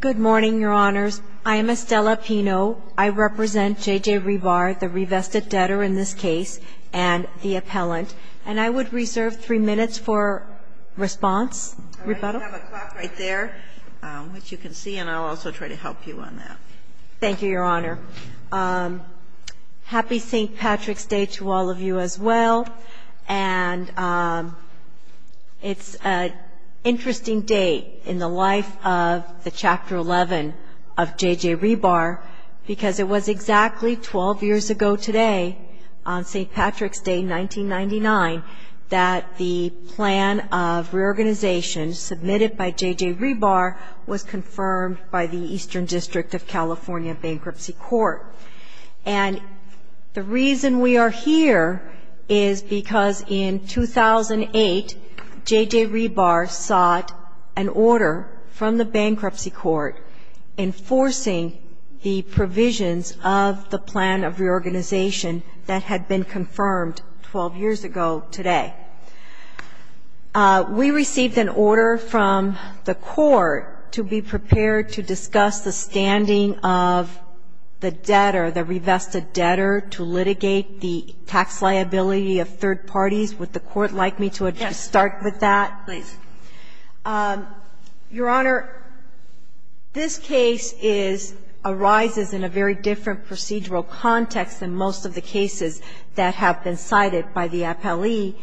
Good morning, Your Honors. I am Estella Pino. I represent J.J. Re-Bar, the Revested Debtor in this case, and the appellant. And I would reserve three minutes for response, rebuttal. I have a clock right there, which you can see, and I'll also try to help you on that. Thank you, Your Honor. Happy St. Patrick's Day to all of you as well. And it's an interesting date in the life of the Chapter 11 of J.J. Re-Bar, because it was exactly 12 years ago today, on St. Patrick's Day, 1999, that the plan of reorganization submitted by J.J. Re-Bar was confirmed by the Eastern District of California Bankruptcy Court. And the reason we are here is because in 2008, J.J. Re-Bar sought an order from the Bankruptcy Court enforcing the provisions of the plan of reorganization that had been confirmed 12 years ago today. We received an order from the court to be prepared to discuss the standing of the debtor, the Revested Debtor, to the liability of third parties. Would the Court like me to start with that? Yes, please. Your Honor, this case is – arises in a very different procedural context than most of the cases that have been cited by the appellee,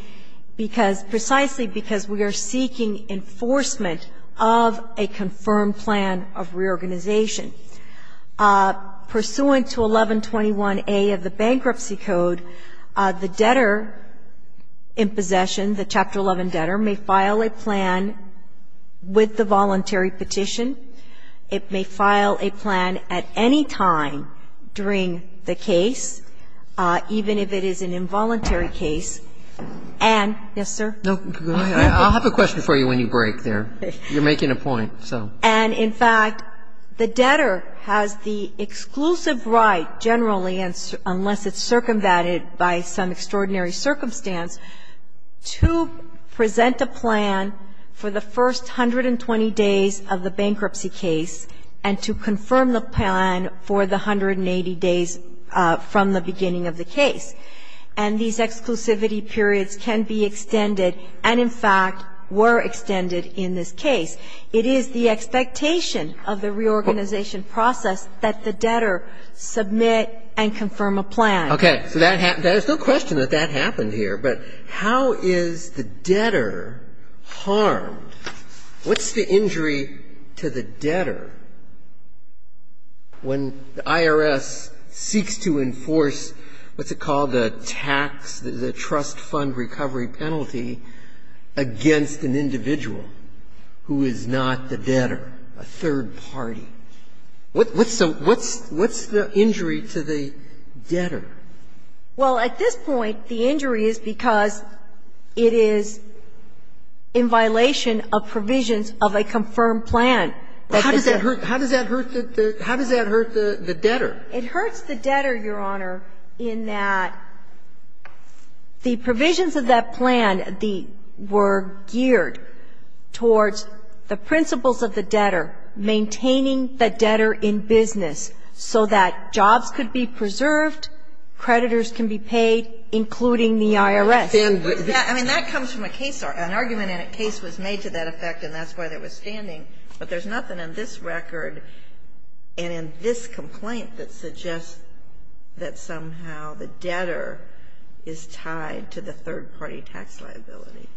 because – precisely because we are seeking enforcement of a confirmed plan of reorganization. Pursuant to 1121A of the Bankruptcy Code, the debtor in possession, the Chapter 11 debtor, may file a plan with the voluntary petition. It may file a plan at any time during the case, even if it is an involuntary case, and – yes, sir? No, go ahead. I'll have a question for you when you break there. You're making a point, so. And, in fact, the debtor has the exclusive right, generally, unless it's circumvented by some extraordinary circumstance, to present a plan for the first 120 days of the bankruptcy case, and to confirm the plan for the 180 days from the beginning of the case. And these exclusivity periods can be extended, and, in fact, were extended in this case. It is the expectation of the reorganization process that the debtor submit and confirm a plan. Okay. So that – there's no question that that happened here, but how is the debtor harmed? What's the injury to the debtor when the IRS seeks to enforce, what's it called, a tax, a trust fund recovery penalty against an individual who is not the debtor, a third party? What's the – what's the injury to the debtor? Well, at this point, the injury is because it is in violation of provisions of a confirmed plan. How does that hurt – how does that hurt the debtor? It hurts the debtor, Your Honor, in that the provisions of that plan, the – were geared towards the principles of the debtor, maintaining the debtor in business so that jobs could be preserved, creditors can be paid, including the IRS. I mean, that comes from a case – an argument in a case was made to that effect, and that's why they were standing. But there's nothing in this record and in this complaint that suggests that somehow the debtor is tied to the third-party tax liability.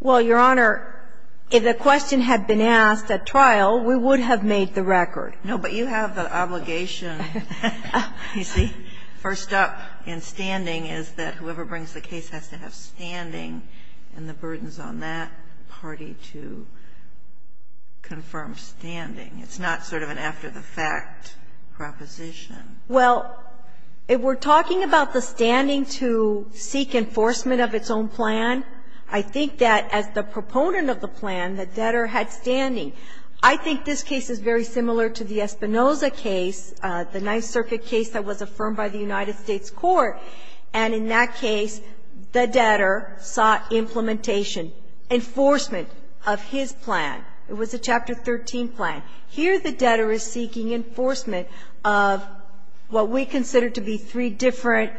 Well, Your Honor, if the question had been asked at trial, we would have made the record. No, but you have the obligation, you see, first up in standing is that whoever brings the case has to have standing and the burdens on that party to confirm standing. It's not sort of an after-the-fact proposition. Well, if we're talking about the standing to seek enforcement of its own plan, I think that as the proponent of the plan, the debtor had standing. I think this case is very similar to the Espinoza case, the Ninth Circuit case that was affirmed by the United States court, and in that case the debtor sought implementation, enforcement of his plan. It was a Chapter 13 plan. Here the debtor is seeking enforcement of what we consider to be three different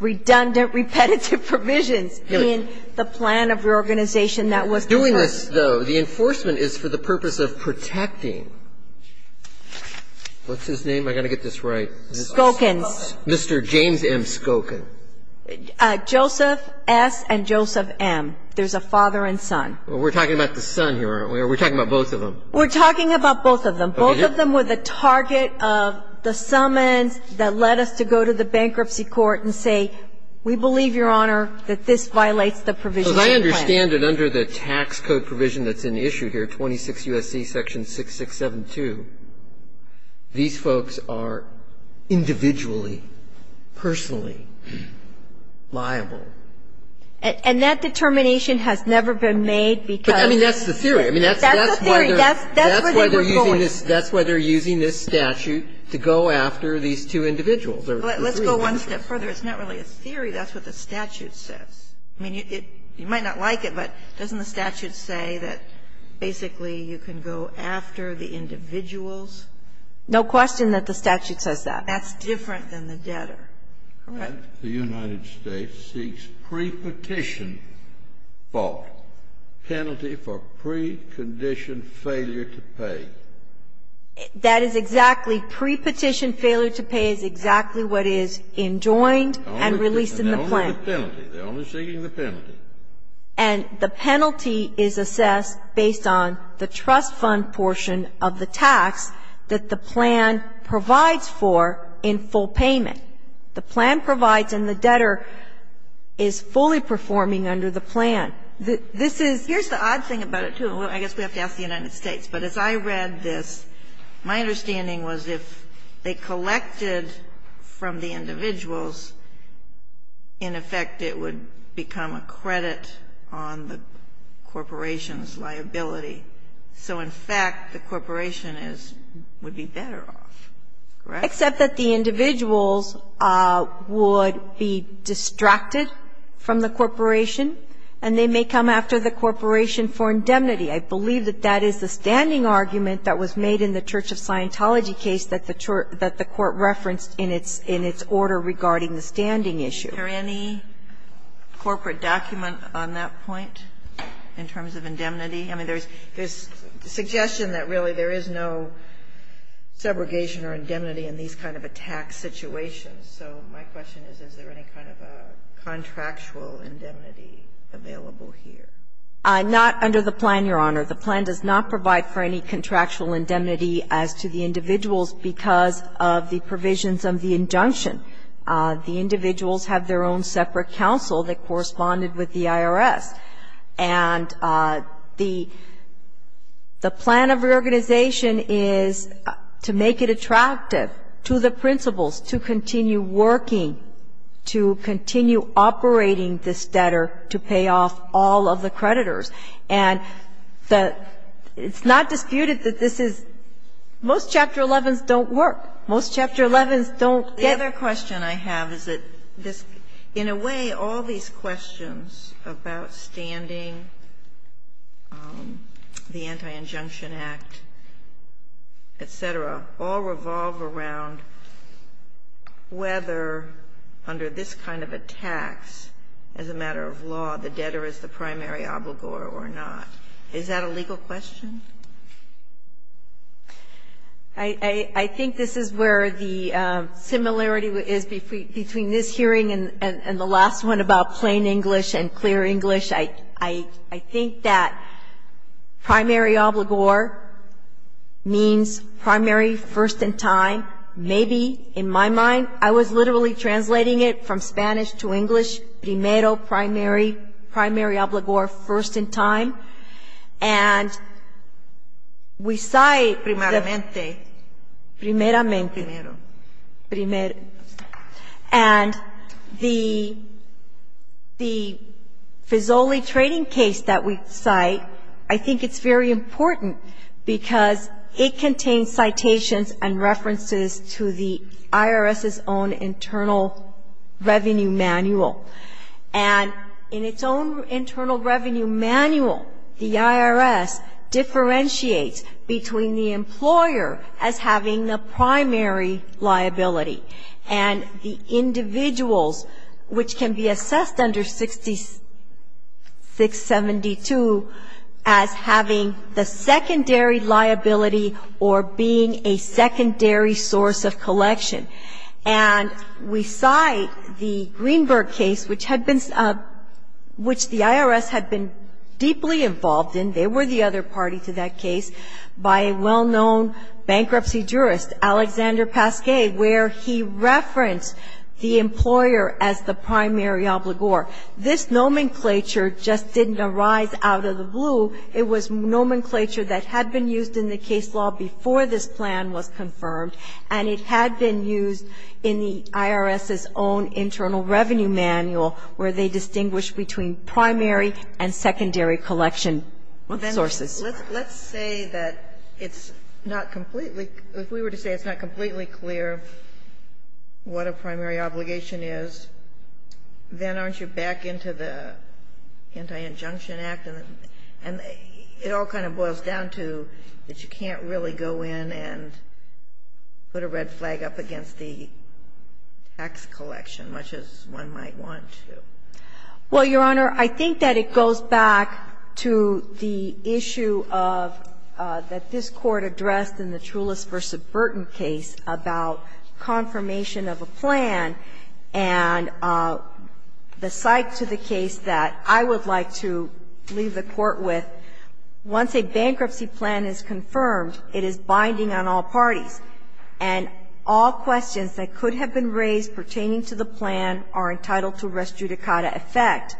redundant, repetitive provisions in the plan of the organization that was defined. Doing this, though, the enforcement is for the purpose of protecting. What's his name? I've got to get this right. Skokins. Mr. James M. Skokin. Joseph S. and Joseph M. There's a father and son. We're talking about the son here, aren't we? Or are we talking about both of them? We're talking about both of them. Both of them were the target of the summons that led us to go to the bankruptcy court and say, we believe, Your Honor, that this violates the provision of the plan. So as I understand it, under the tax code provision that's in issue here, 26 U.S.C. section 6672, these folks are individually, personally liable. And that determination has never been made because of the debtor. But I mean, that's the theory. I mean, that's why they're using this statute to go after these two individuals. Let's go one step further. It's not really a theory. That's what the statute says. I mean, you might not like it, but doesn't the statute say that basically you can go after the individuals? No question that the statute says that. That's different than the debtor. Correct? The United States seeks pre-petition fault, penalty for pre-conditioned failure to pay. That is exactly pre-petition failure to pay is exactly what is enjoined and released in the plan. They're only seeking the penalty. And the penalty is assessed based on the trust fund portion of the tax that the plan provides for in full payment. The plan provides and the debtor is fully performing under the plan. This is the odd thing about it, too. I guess we have to ask the United States. But as I read this, my understanding was if they collected from the individuals, in effect, it would become a credit on the corporation's liability. So, in fact, the corporation would be better off, correct? Except that the individuals would be distracted from the corporation and they may come after the corporation for indemnity. I believe that that is the standing argument that was made in the Church of Scientology case that the court referenced in its order regarding the standing issue. Are there any corporate documents on that point in terms of indemnity? I mean, there's suggestion that really there is no segregation or indemnity in these kind of a tax situation. So my question is, is there any kind of a contractual indemnity available here? Not under the plan, Your Honor. The plan does not provide for any contractual indemnity as to the individuals because of the provisions of the injunction. The individuals have their own separate counsel that corresponded with the IRS. And the plan of reorganization is to make it attractive to the principals to continue working, to continue operating this debtor to pay off all of the creditors. And the – it's not disputed that this is – most Chapter 11s don't work. Most Chapter 11s don't get it. Another question I have is that this – in a way, all these questions about standing, the Anti-Injunction Act, et cetera, all revolve around whether under this kind of a tax, as a matter of law, the debtor is the primary obligor or not. Is that a legal question? I think this is where the similarity is between this hearing and the last one about plain English and clear English. I think that primary obligor means primary first in time. Maybe in my mind, I was literally translating it from Spanish to English, primero, primary, primary obligor, first in time. And we cite – Primeramente. Primeramente. Primero. Primero. And the FISOLI trading case that we cite, I think it's very important because it contains citations and references to the IRS's own Internal Revenue Manual. And in its own Internal Revenue Manual, the IRS differentiates between the employer as having the primary liability and the individuals, which can be assessed under 672, as having the secondary liability or being a secondary source of collection. And we cite the Greenberg case, which had been – which the IRS had been deeply involved in, they were the other party to that case, by a well-known bankruptcy jurist, Alexander Pasquet, where he referenced the employer as the primary obligor. This nomenclature just didn't arise out of the blue. It was nomenclature that had been used in the case law before this plan was confirmed, and it had been used in the IRS's own Internal Revenue Manual where they distinguished between primary and secondary collection sources. Let's say that it's not completely – if we were to say it's not completely clear what a primary obligation is, then aren't you back into the Anti-Injunction Act, and it all kind of boils down to that you can't really go in and put a red flag up against the tax collection, much as one might want to. Well, Your Honor, I think that it goes back to the issue of – that this Court addressed in the Trulis v. Burton case about confirmation of a plan and the cite to the case that I would like to leave the Court with. Once a bankruptcy plan is confirmed, it is binding on all parties. And all questions that could have been raised pertaining to the plan are entitled to res judicata effect.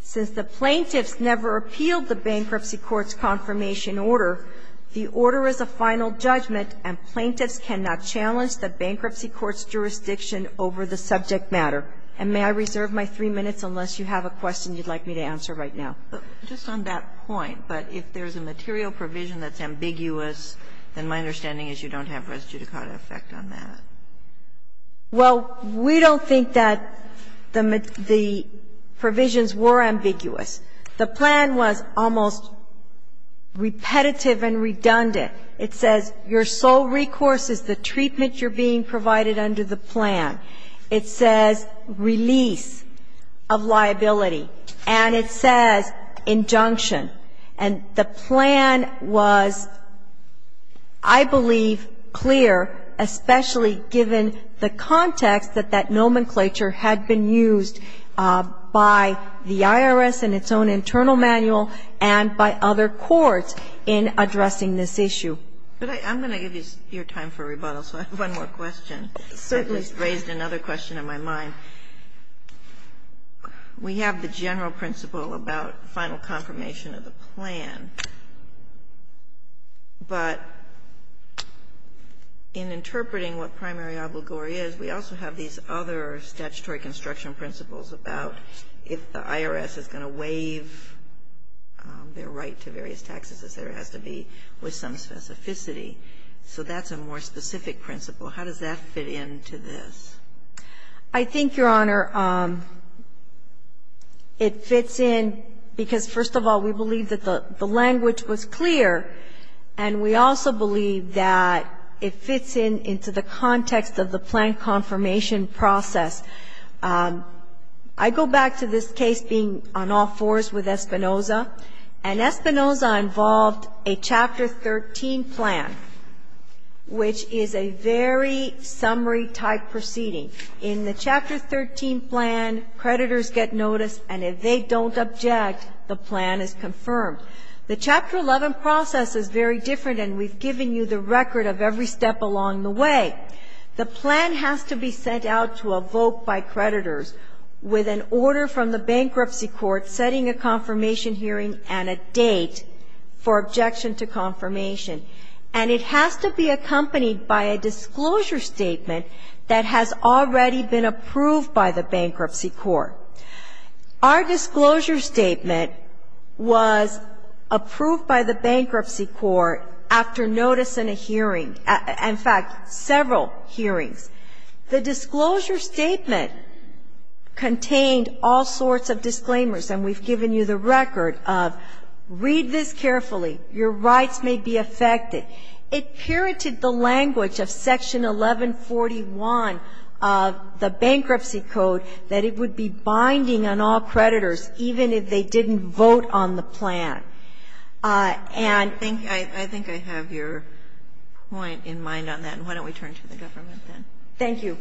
Since the plaintiffs never appealed the bankruptcy court's confirmation order, the order is a final judgment, and plaintiffs cannot challenge the bankruptcy court's jurisdiction over the subject matter. And may I reserve my three minutes, unless you have a question you'd like me to answer right now? But just on that point, but if there's a material provision that's ambiguous, then my understanding is you don't have res judicata effect on that. Well, we don't think that the provisions were ambiguous. The plan was almost repetitive and redundant. It says your sole recourse is the treatment you're being provided under the plan. It says release of liability. And it says injunction. And the plan was, I believe, clear, especially given the context that that nomenclature had been used by the IRS in its own internal manual and by other courts in addressing this issue. But I'm going to give you your time for rebuttal, so I have one more question. Certainly. I just raised another question in my mind. We have the general principle about final confirmation of the plan, but in interpreting what primary obligory is, we also have these other statutory construction principles about if the IRS is going to waive their right to various taxes, it has to be with some specificity. So that's a more specific principle. How does that fit into this? I think, Your Honor, it fits in because, first of all, we believe that the language was clear, and we also believe that it fits in into the context of the plan confirmation process. I go back to this case being on all fours with Espinoza, and Espinoza involved a Chapter 13 plan, which is a very summary-type proceeding. In the Chapter 13 plan, creditors get notice, and if they don't object, the plan is confirmed. The Chapter 11 process is very different, and we've given you the record of every step along the way. The plan has to be sent out to a vote by creditors with an order from the bankruptcy court setting a confirmation hearing and a date for objection to confirmation. And it has to be accompanied by a disclosure statement that has already been approved by the bankruptcy court. Our disclosure statement was approved by the bankruptcy court after notice in a hearing at, in fact, several hearings. The disclosure statement contained all sorts of disclaimers, and we've given you the record of, read this carefully, your rights may be affected. It pirated the language of Section 1141 of the bankruptcy code that it would be binding on all creditors, even if they didn't vote on the plan. And I think I have your point in mind on that, and why don't we turn to the government then. Thank you.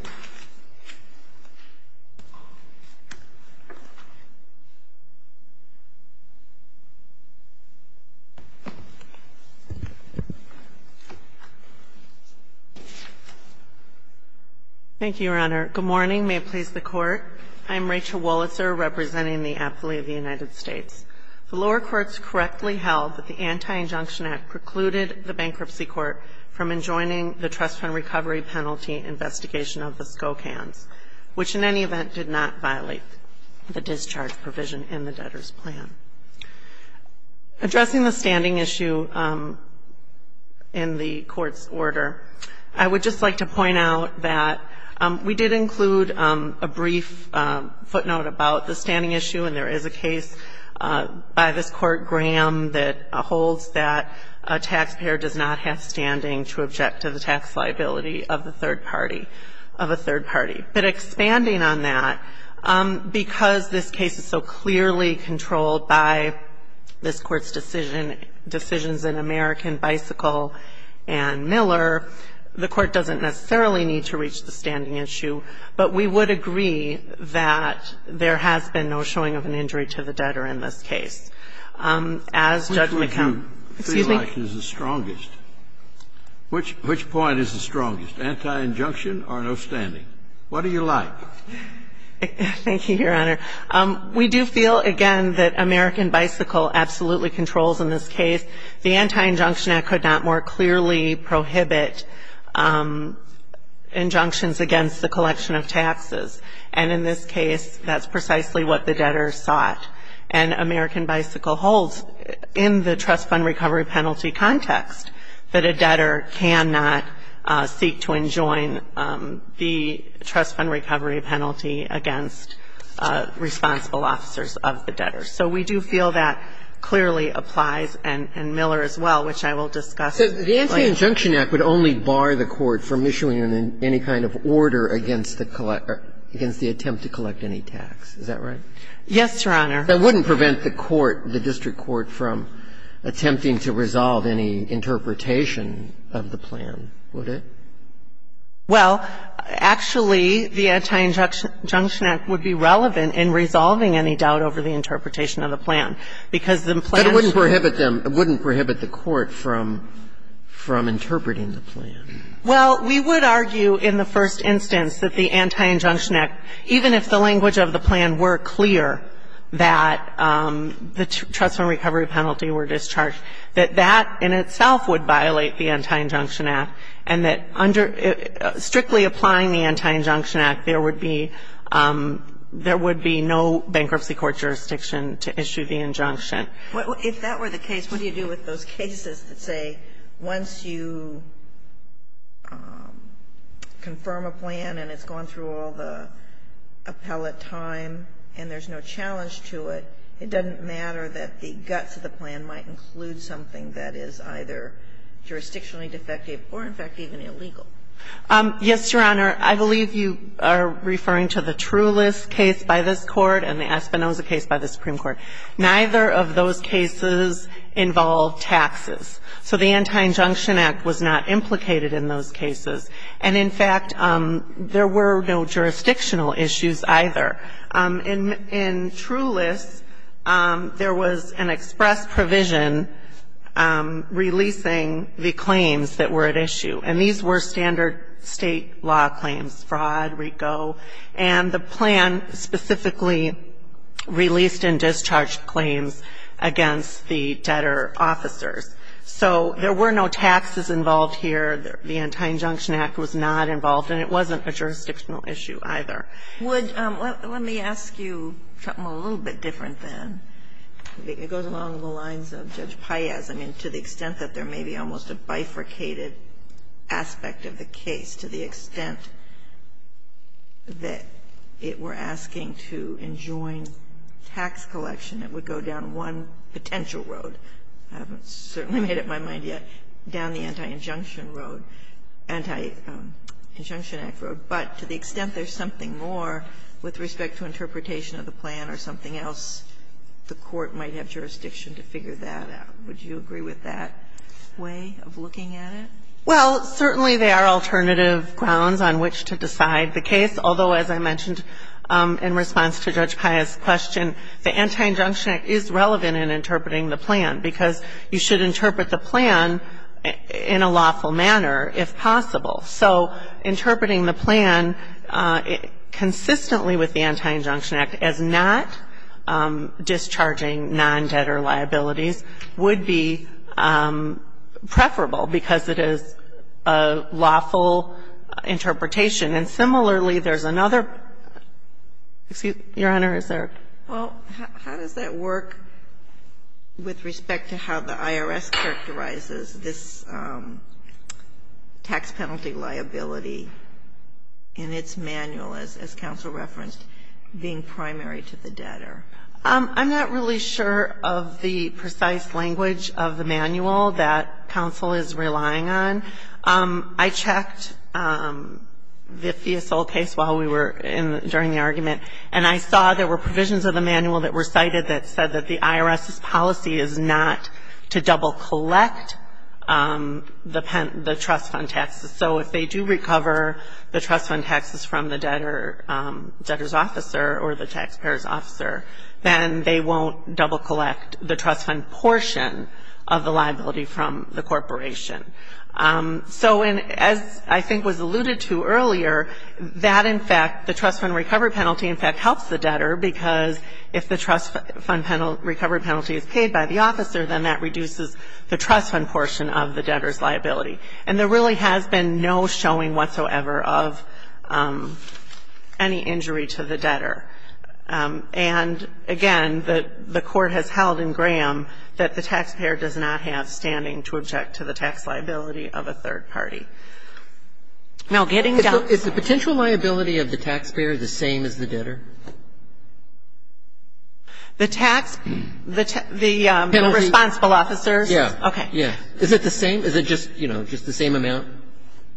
Thank you, Your Honor. Good morning. May it please the Court. I'm Rachel Wolitzer, representing the athlete of the United States. The lower courts correctly held that the Anti-Injunction Act precluded the bankruptcy court from enjoining the trust fund recovery penalty investigation of the Skokans, which in any event did not violate the discharge provision in the debtor's plan. Addressing the standing issue in the Court's order, I would just like to point out that we did include a brief footnote about the standing issue, and there is a case by this standing to object to the tax liability of the third party, of a third party. But expanding on that, because this case is so clearly controlled by this Court's decision, decisions in American Bicycle and Miller, the Court doesn't necessarily need to reach the standing issue. But we would agree that there has been no showing of an injury to the debtor in this case. As Judge McComb, excuse me. I would like to ask you, which point of this is strongest? I would like to ask you, which point of this is strongest? Which point is the strongest? Anti-injunction or no standing? What do you like? Thank you, Your Honor. We do feel, again, that American Bicycle absolutely controls in this case. The Anti-Injunction Act could not more clearly prohibit injunctions against the collection of taxes. And in this case, that's precisely what the debtor sought. And American Bicycle holds, in the trust fund recovery penalty context, that a debtor cannot seek to enjoin the trust fund recovery penalty against responsible officers of the debtor. So we do feel that clearly applies, and Miller as well, which I will discuss. The Anti-Injunction Act would only bar the court from issuing any kind of order against the attempt to collect any tax, is that right? Yes, Your Honor. That wouldn't prevent the court, the district court, from attempting to resolve any interpretation of the plan, would it? Well, actually, the Anti-Injunction Act would be relevant in resolving any doubt over the interpretation of the plan, because the plan should be clear. But it wouldn't prohibit them, it wouldn't prohibit the court from interpreting the plan. Well, we would argue in the first instance that the Anti-Injunction Act, even if the plan was clear, that the trust fund recovery penalty were discharged, that that in itself would violate the Anti-Injunction Act, and that strictly applying the Anti-Injunction Act, there would be no bankruptcy court jurisdiction to issue the injunction. If that were the case, what do you do with those cases that say once you confirm a plan and it's gone through all the appellate time and there's no challenge to it, it doesn't matter that the guts of the plan might include something that is either jurisdictionally defective or, in fact, even illegal? Yes, Your Honor. I believe you are referring to the Trulis case by this Court and the Espinoza case by the Supreme Court. Neither of those cases involved taxes. So the Anti-Injunction Act was not implicated in those cases. And, in fact, there were no jurisdictional issues either. In Trulis, there was an express provision releasing the claims that were at issue. And these were standard state law claims, fraud, RICO. And the plan specifically released and discharged claims against the debtor officers. So there were no taxes involved here. The Anti-Injunction Act was not involved. And it wasn't a jurisdictional issue either. Would you ask you something a little bit different, then? It goes along the lines of Judge Paez. I mean, to the extent that there may be almost a bifurcated aspect of the case, to the extent that if we're asking to enjoin tax collection, it would go down one potential road. I haven't certainly made up my mind yet. Down the Anti-Injunction Road, Anti-Injunction Act Road. But to the extent there's something more with respect to interpretation of the plan or something else, the Court might have jurisdiction to figure that out. Would you agree with that way of looking at it? Well, certainly there are alternative grounds on which to decide the case. Although, as I mentioned in response to Judge Paez's question, the Anti-Injunction Act is relevant in interpreting the plan, because you should interpret the plan in a lawful manner, if possible. So interpreting the plan consistently with the Anti-Injunction Act as not discharging non-debtor liabilities would be preferable, because it is a lawful interpretation. And similarly, there's another — excuse me, Your Honor, is there? Well, how does that work with respect to how the IRS characterizes this tax penalty liability in its manual, as counsel referenced, being primary to the debtor? I'm not really sure of the precise language of the manual that counsel is relying on. I checked the Fiasol case while we were in — during the argument, and I saw there were provisions of the manual that were cited that said that the IRS's policy is not to double-collect the trust fund taxes. So if they do recover the trust fund taxes from the debtor's officer or the taxpayer's officer, then they won't double-collect the trust fund portion of the liability from the corporation. So in — as I think was alluded to earlier, that, in fact — the trust fund recovery penalty, in fact, helps the debtor, because if the trust fund penalty — recovery penalty is paid by the officer, then that reduces the trust fund portion of the debtor's liability. And there really has been no showing whatsoever of any injury to the debtor. And, again, the Court has held in Graham that the taxpayer does not have standing to object to the tax liability of a third party. Now, getting down to — Is the penalty of the taxpayer the same as the debtor? The tax — the responsible officer's? Yeah. Okay. Yeah. Is it the same? Is it just, you know, just the same amount?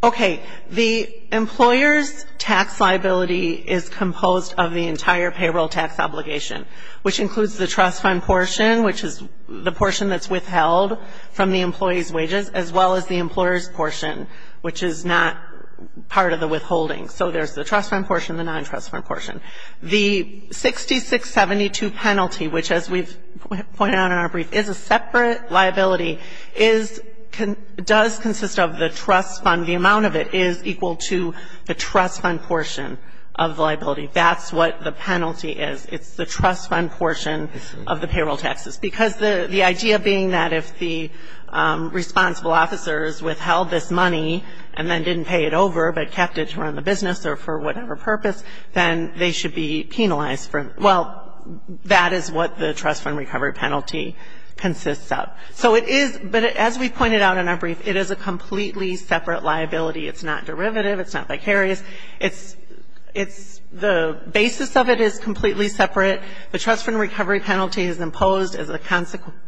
Okay. The employer's tax liability is composed of the entire payroll tax obligation, which includes the trust fund portion, which is the portion that's withheld from the employee's wages, as well as the employer's portion, which is not part of the withholding. So there's the trust fund portion, the non-trust fund portion. The 6672 penalty, which, as we've pointed out in our brief, is a separate liability, is — does consist of the trust fund. The amount of it is equal to the trust fund portion of the liability. That's what the penalty is. It's the trust fund portion of the payroll taxes. Because the idea being that if the responsible officer's withheld this money and then or for whatever purpose, then they should be penalized for it. Well, that is what the trust fund recovery penalty consists of. So it is — but as we pointed out in our brief, it is a completely separate liability. It's not derivative. It's not vicarious. It's — it's — the basis of it is completely separate. The trust fund recovery penalty is imposed as a consequence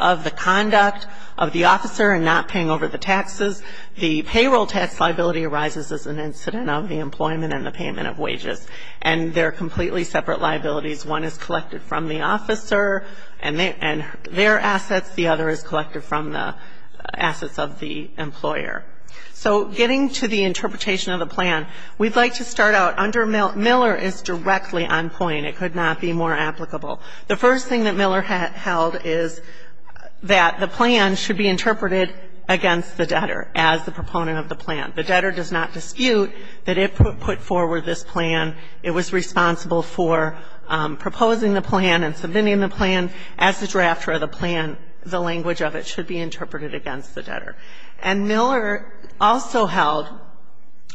of the conduct of the officer in not paying over the taxes. The payroll tax liability arises as an incident of the employment and the payment of wages. And they're completely separate liabilities. One is collected from the officer and their assets. The other is collected from the assets of the employer. So getting to the interpretation of the plan, we'd like to start out under — Miller is directly on point. It could not be more applicable. The first thing that Miller held is that the plan should be interpreted against the debtor as the proponent of the plan. The debtor does not dispute that it put forward this plan. It was responsible for proposing the plan and submitting the plan as the drafter of the plan. The language of it should be interpreted against the debtor. And Miller also held,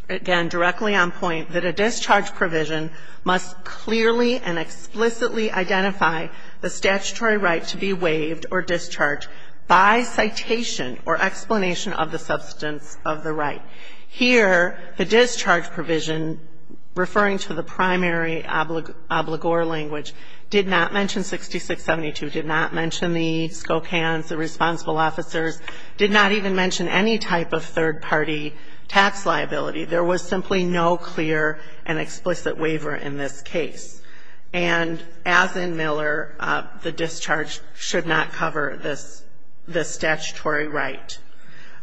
again, directly on point, that a discharge provision must clearly and explicitly identify the statutory right to be waived or discharged by citation or explanation of the substance of the right. Here, the discharge provision, referring to the primary obligor language, did not mention 6672, did not mention the SCOCANs, the responsible officers, did not even mention any type of third-party tax liability. There was simply no clear and explicit waiver in this case. And as in Miller, the discharge should not cover this statutory right.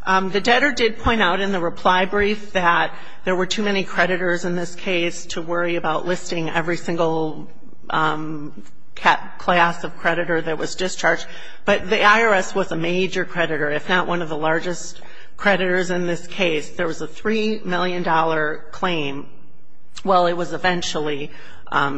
The debtor did point out in the reply brief that there were too many creditors in this case to worry about listing every single class of creditor that was discharged. But the IRS was a major creditor, if not one of the largest creditors in this case. There was a $3 million claim. Well, it was eventually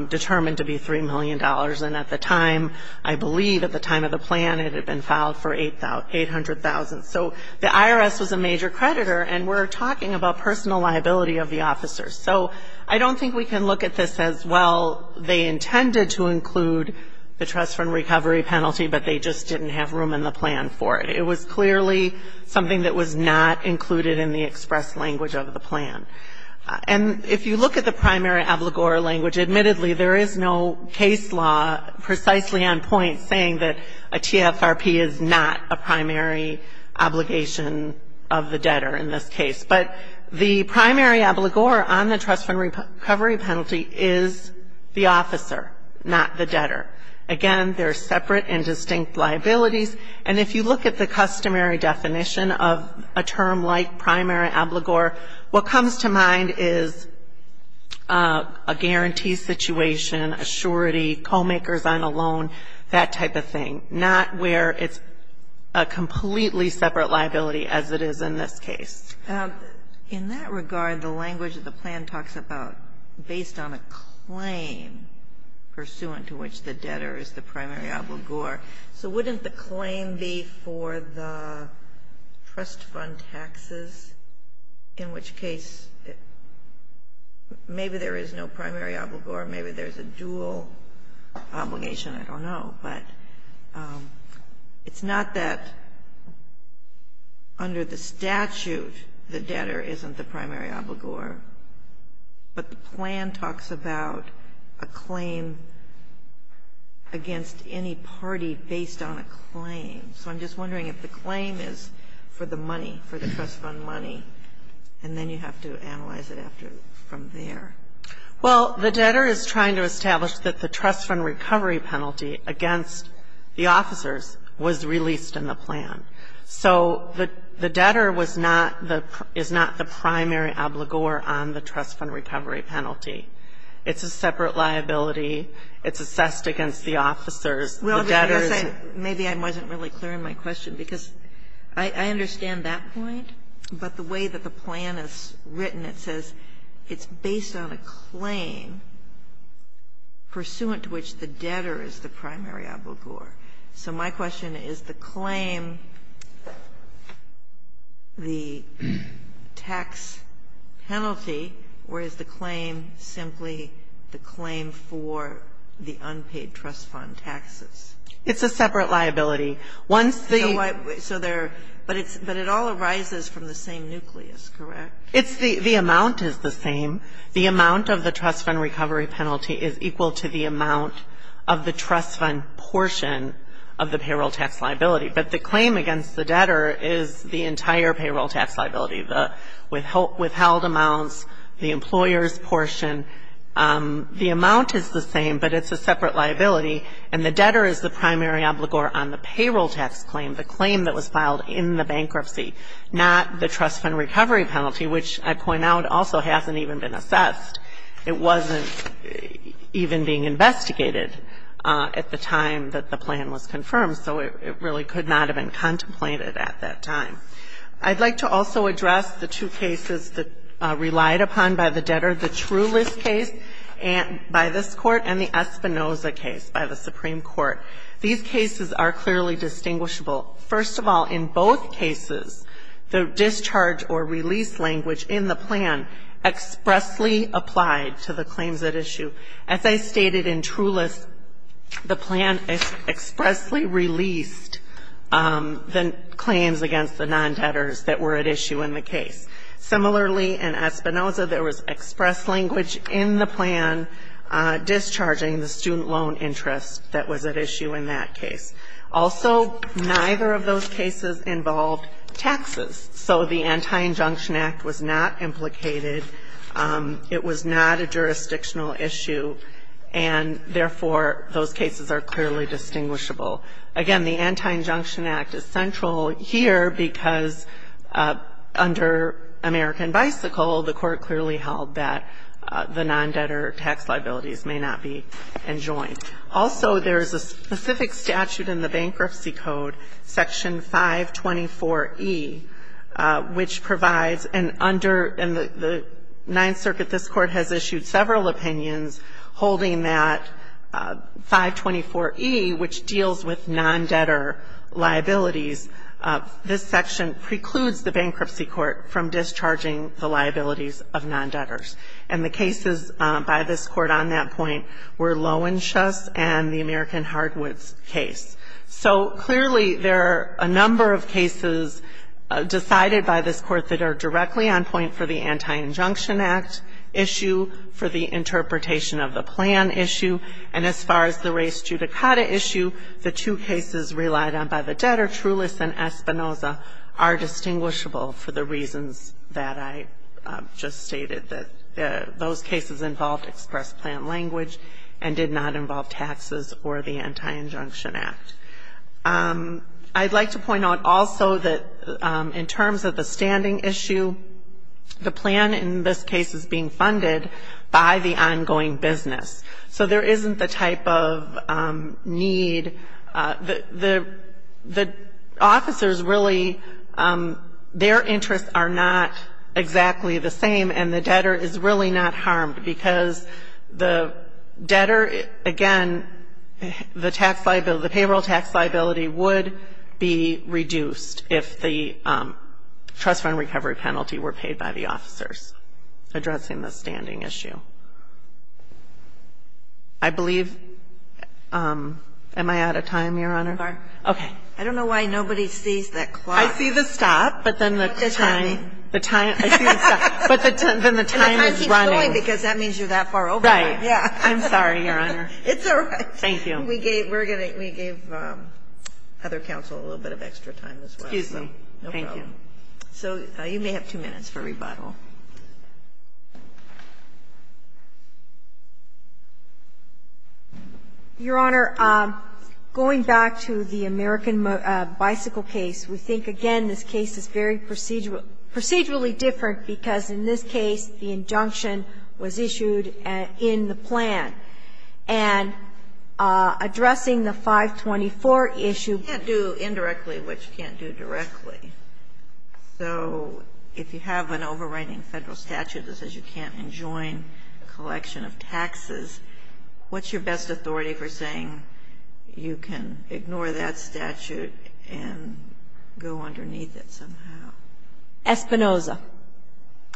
determined to be $3 million. And at the time, I believe at the time of the plan, it had been filed for $800,000. So the IRS was a major creditor, and we're talking about personal liability of the officers. So I don't think we can look at this as, well, they intended to include the trust fund recovery penalty, but they just didn't have room in the plan for it. It was clearly something that was not included in the express language of the plan. And if you look at the primary obligor language, admittedly there is no case law precisely on point saying that a TFRP is not a primary obligation of the debtor in this case. But the primary obligor on the trust fund recovery penalty is the officer, not the debtor. Again, they're separate and distinct liabilities. And if you look at the customary definition of a term like primary obligor, what comes to mind is a guarantee situation, a surety, co-makers on a loan, that type of thing, not where it's a completely separate liability as it is in this case. In that regard, the language of the plan talks about based on a claim pursuant to which the debtor is the primary obligor. So wouldn't the claim be for the trust fund taxes, in which case maybe there is no primary obligor, maybe there's a dual obligation, I don't know. But it's not that under the statute the debtor isn't the primary obligor, but the plan talks about a claim against any party based on a claim. So I'm just wondering if the claim is for the money, for the trust fund money, and then you have to analyze it after from there. Well, the debtor is trying to establish that the trust fund recovery penalty against the officers was released in the plan. So the debtor was not the primary obligor on the trust fund recovery penalty. It's a separate liability. It's assessed against the officers. The debtor is the primary obligor. Maybe I wasn't really clear in my question, because I understand that point. But the way that the plan is written, it says it's based on a claim pursuant to which the debtor is the primary obligor. So my question is the claim, the tax penalty, or is the claim simply the claim for the unpaid trust fund taxes? It's a separate liability. Once the ---- So there ---- but it all arises from the same nucleus, correct? It's the ---- the amount is the same. The amount of the trust fund recovery penalty is equal to the amount of the trust fund portion of the payroll tax liability. But the claim against the debtor is the entire payroll tax liability, the withheld amounts, the employer's portion. The amount is the same, but it's a separate liability, and the debtor is the primary obligor on the payroll tax claim, the claim that was filed in the bankruptcy, not the trust fund recovery penalty, which I point out also hasn't even been assessed. It wasn't even being investigated at the time that the plan was confirmed, so it really could not have been contemplated at that time. I'd like to also address the two cases that relied upon by the debtor, the Trulis case by this Court and the Espinoza case by the Supreme Court. These cases are clearly distinguishable. First of all, in both cases, the discharge or release language in the plan expressly applied to the claims at issue. As I stated in Trulis, the plan expressly released the claims against the non-debtors that were at issue in the case. Similarly, in Espinoza, there was express language in the plan discharging the student loan interest that was at issue in that case. Also, neither of those cases involved taxes, so the Anti-Injunction Act was not implicated. It was not a jurisdictional issue, and therefore, those cases are clearly distinguishable. Again, the Anti-Injunction Act is central here because under American Bicycle, the Court clearly held that the non-debtor tax liabilities may not be enjoined. Also, there's a specific statute in the Bankruptcy Code, Section 524E, which provides an under the Ninth Circuit, this Court has issued several opinions holding that 524E, which deals with non-debtor liabilities. This section precludes the Bankruptcy Court from discharging the liabilities of non-debtors. And the cases by this Court on that point were Loewenschus and the American Hardwoods case. So clearly, there are a number of cases decided by this Court that are directly on point for the Anti-Injunction Act issue, for the interpretation of the plan issue. And as far as the race judicata issue, the two cases relied on by the debtor, Trulis and Espinoza, are distinguishable for the reasons that I just stated, that those cases involved express plan language and did not involve taxes or the Anti-Injunction Act. I'd like to point out also that in terms of the standing issue, the plan in this case is being funded by the ongoing business. So there isn't the type of need. The officers really, their interests are not exactly the same, and the debtor is really not harmed because the debtor, again, the payroll tax liability would be reduced if the trust fund recovery penalty were paid by the officers addressing the standing issue. I believe am I out of time, Your Honor? Okay. I don't know why nobody sees that clock. I see the stop, but then the time is running. And the time keeps going because that means you're that far over. Right. I'm sorry, Your Honor. It's all right. Thank you. We gave other counsel a little bit of extra time as well. Excuse me. Thank you. So you may have two minutes for rebuttal. Your Honor, going back to the American Bicycle case, we think again this case is very procedurally different because in this case the injunction was issued in the plan. And addressing the 524 issue. You can't do indirectly what you can't do directly. So if you have an overriding Federal statute that says you can't enjoin a collection of taxes, what's your best authority for saying you can ignore that statute and go underneath it somehow? Espinoza.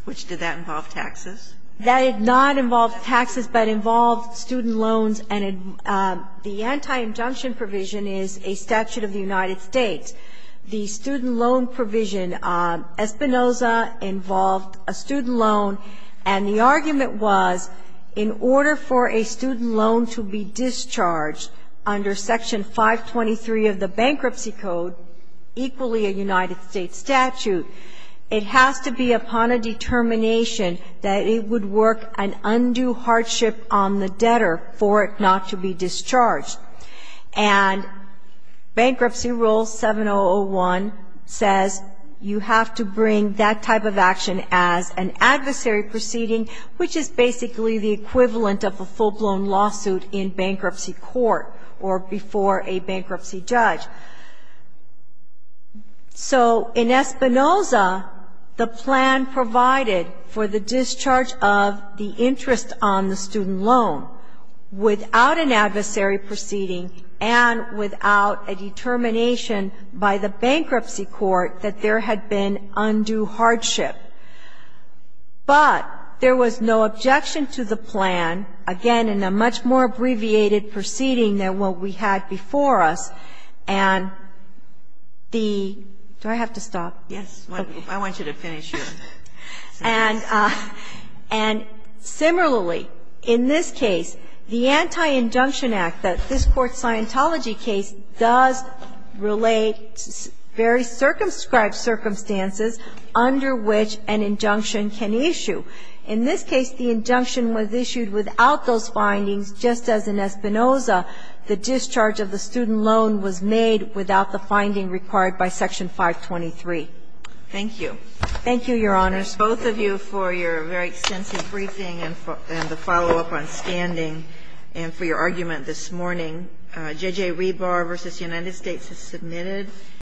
Which did that involve taxes? That did not involve taxes, but involved student loans. And the anti-injunction provision is a statute of the United States. The student loan provision, Espinoza involved a student loan, and the argument was in order for a student loan to be discharged under Section 523 of the Bankruptcy Code, equally a United States statute, it has to be upon a determination that it would work an undue hardship on the debtor for it not to be discharged. And Bankruptcy Rule 7001 says you have to bring that type of action as an adversary proceeding, which is basically the equivalent of a full-blown lawsuit in bankruptcy court or before a bankruptcy judge. So in Espinoza, the plan provided for the discharge of the interest on the student loan without an adversary proceeding and without a determination by the bankruptcy court that there had been undue hardship. But there was no objection to the plan, again, in a much more abbreviated proceeding than what we had before us. And the do I have to stop? Yes. I want you to finish your sentence. And similarly, in this case, the Anti-Indunction Act, this Court's Scientology case, does relate very circumscribed circumstances under which an injunction can issue. In this case, the injunction was issued without those findings, just as in Espinoza the discharge of the student loan was made without the finding required by Section 523. Thank you. Thank you, Your Honors. Both of you for your very extensive briefing and the follow-up on standing and for your argument this morning. J.J. Rebar v. United States is submitted.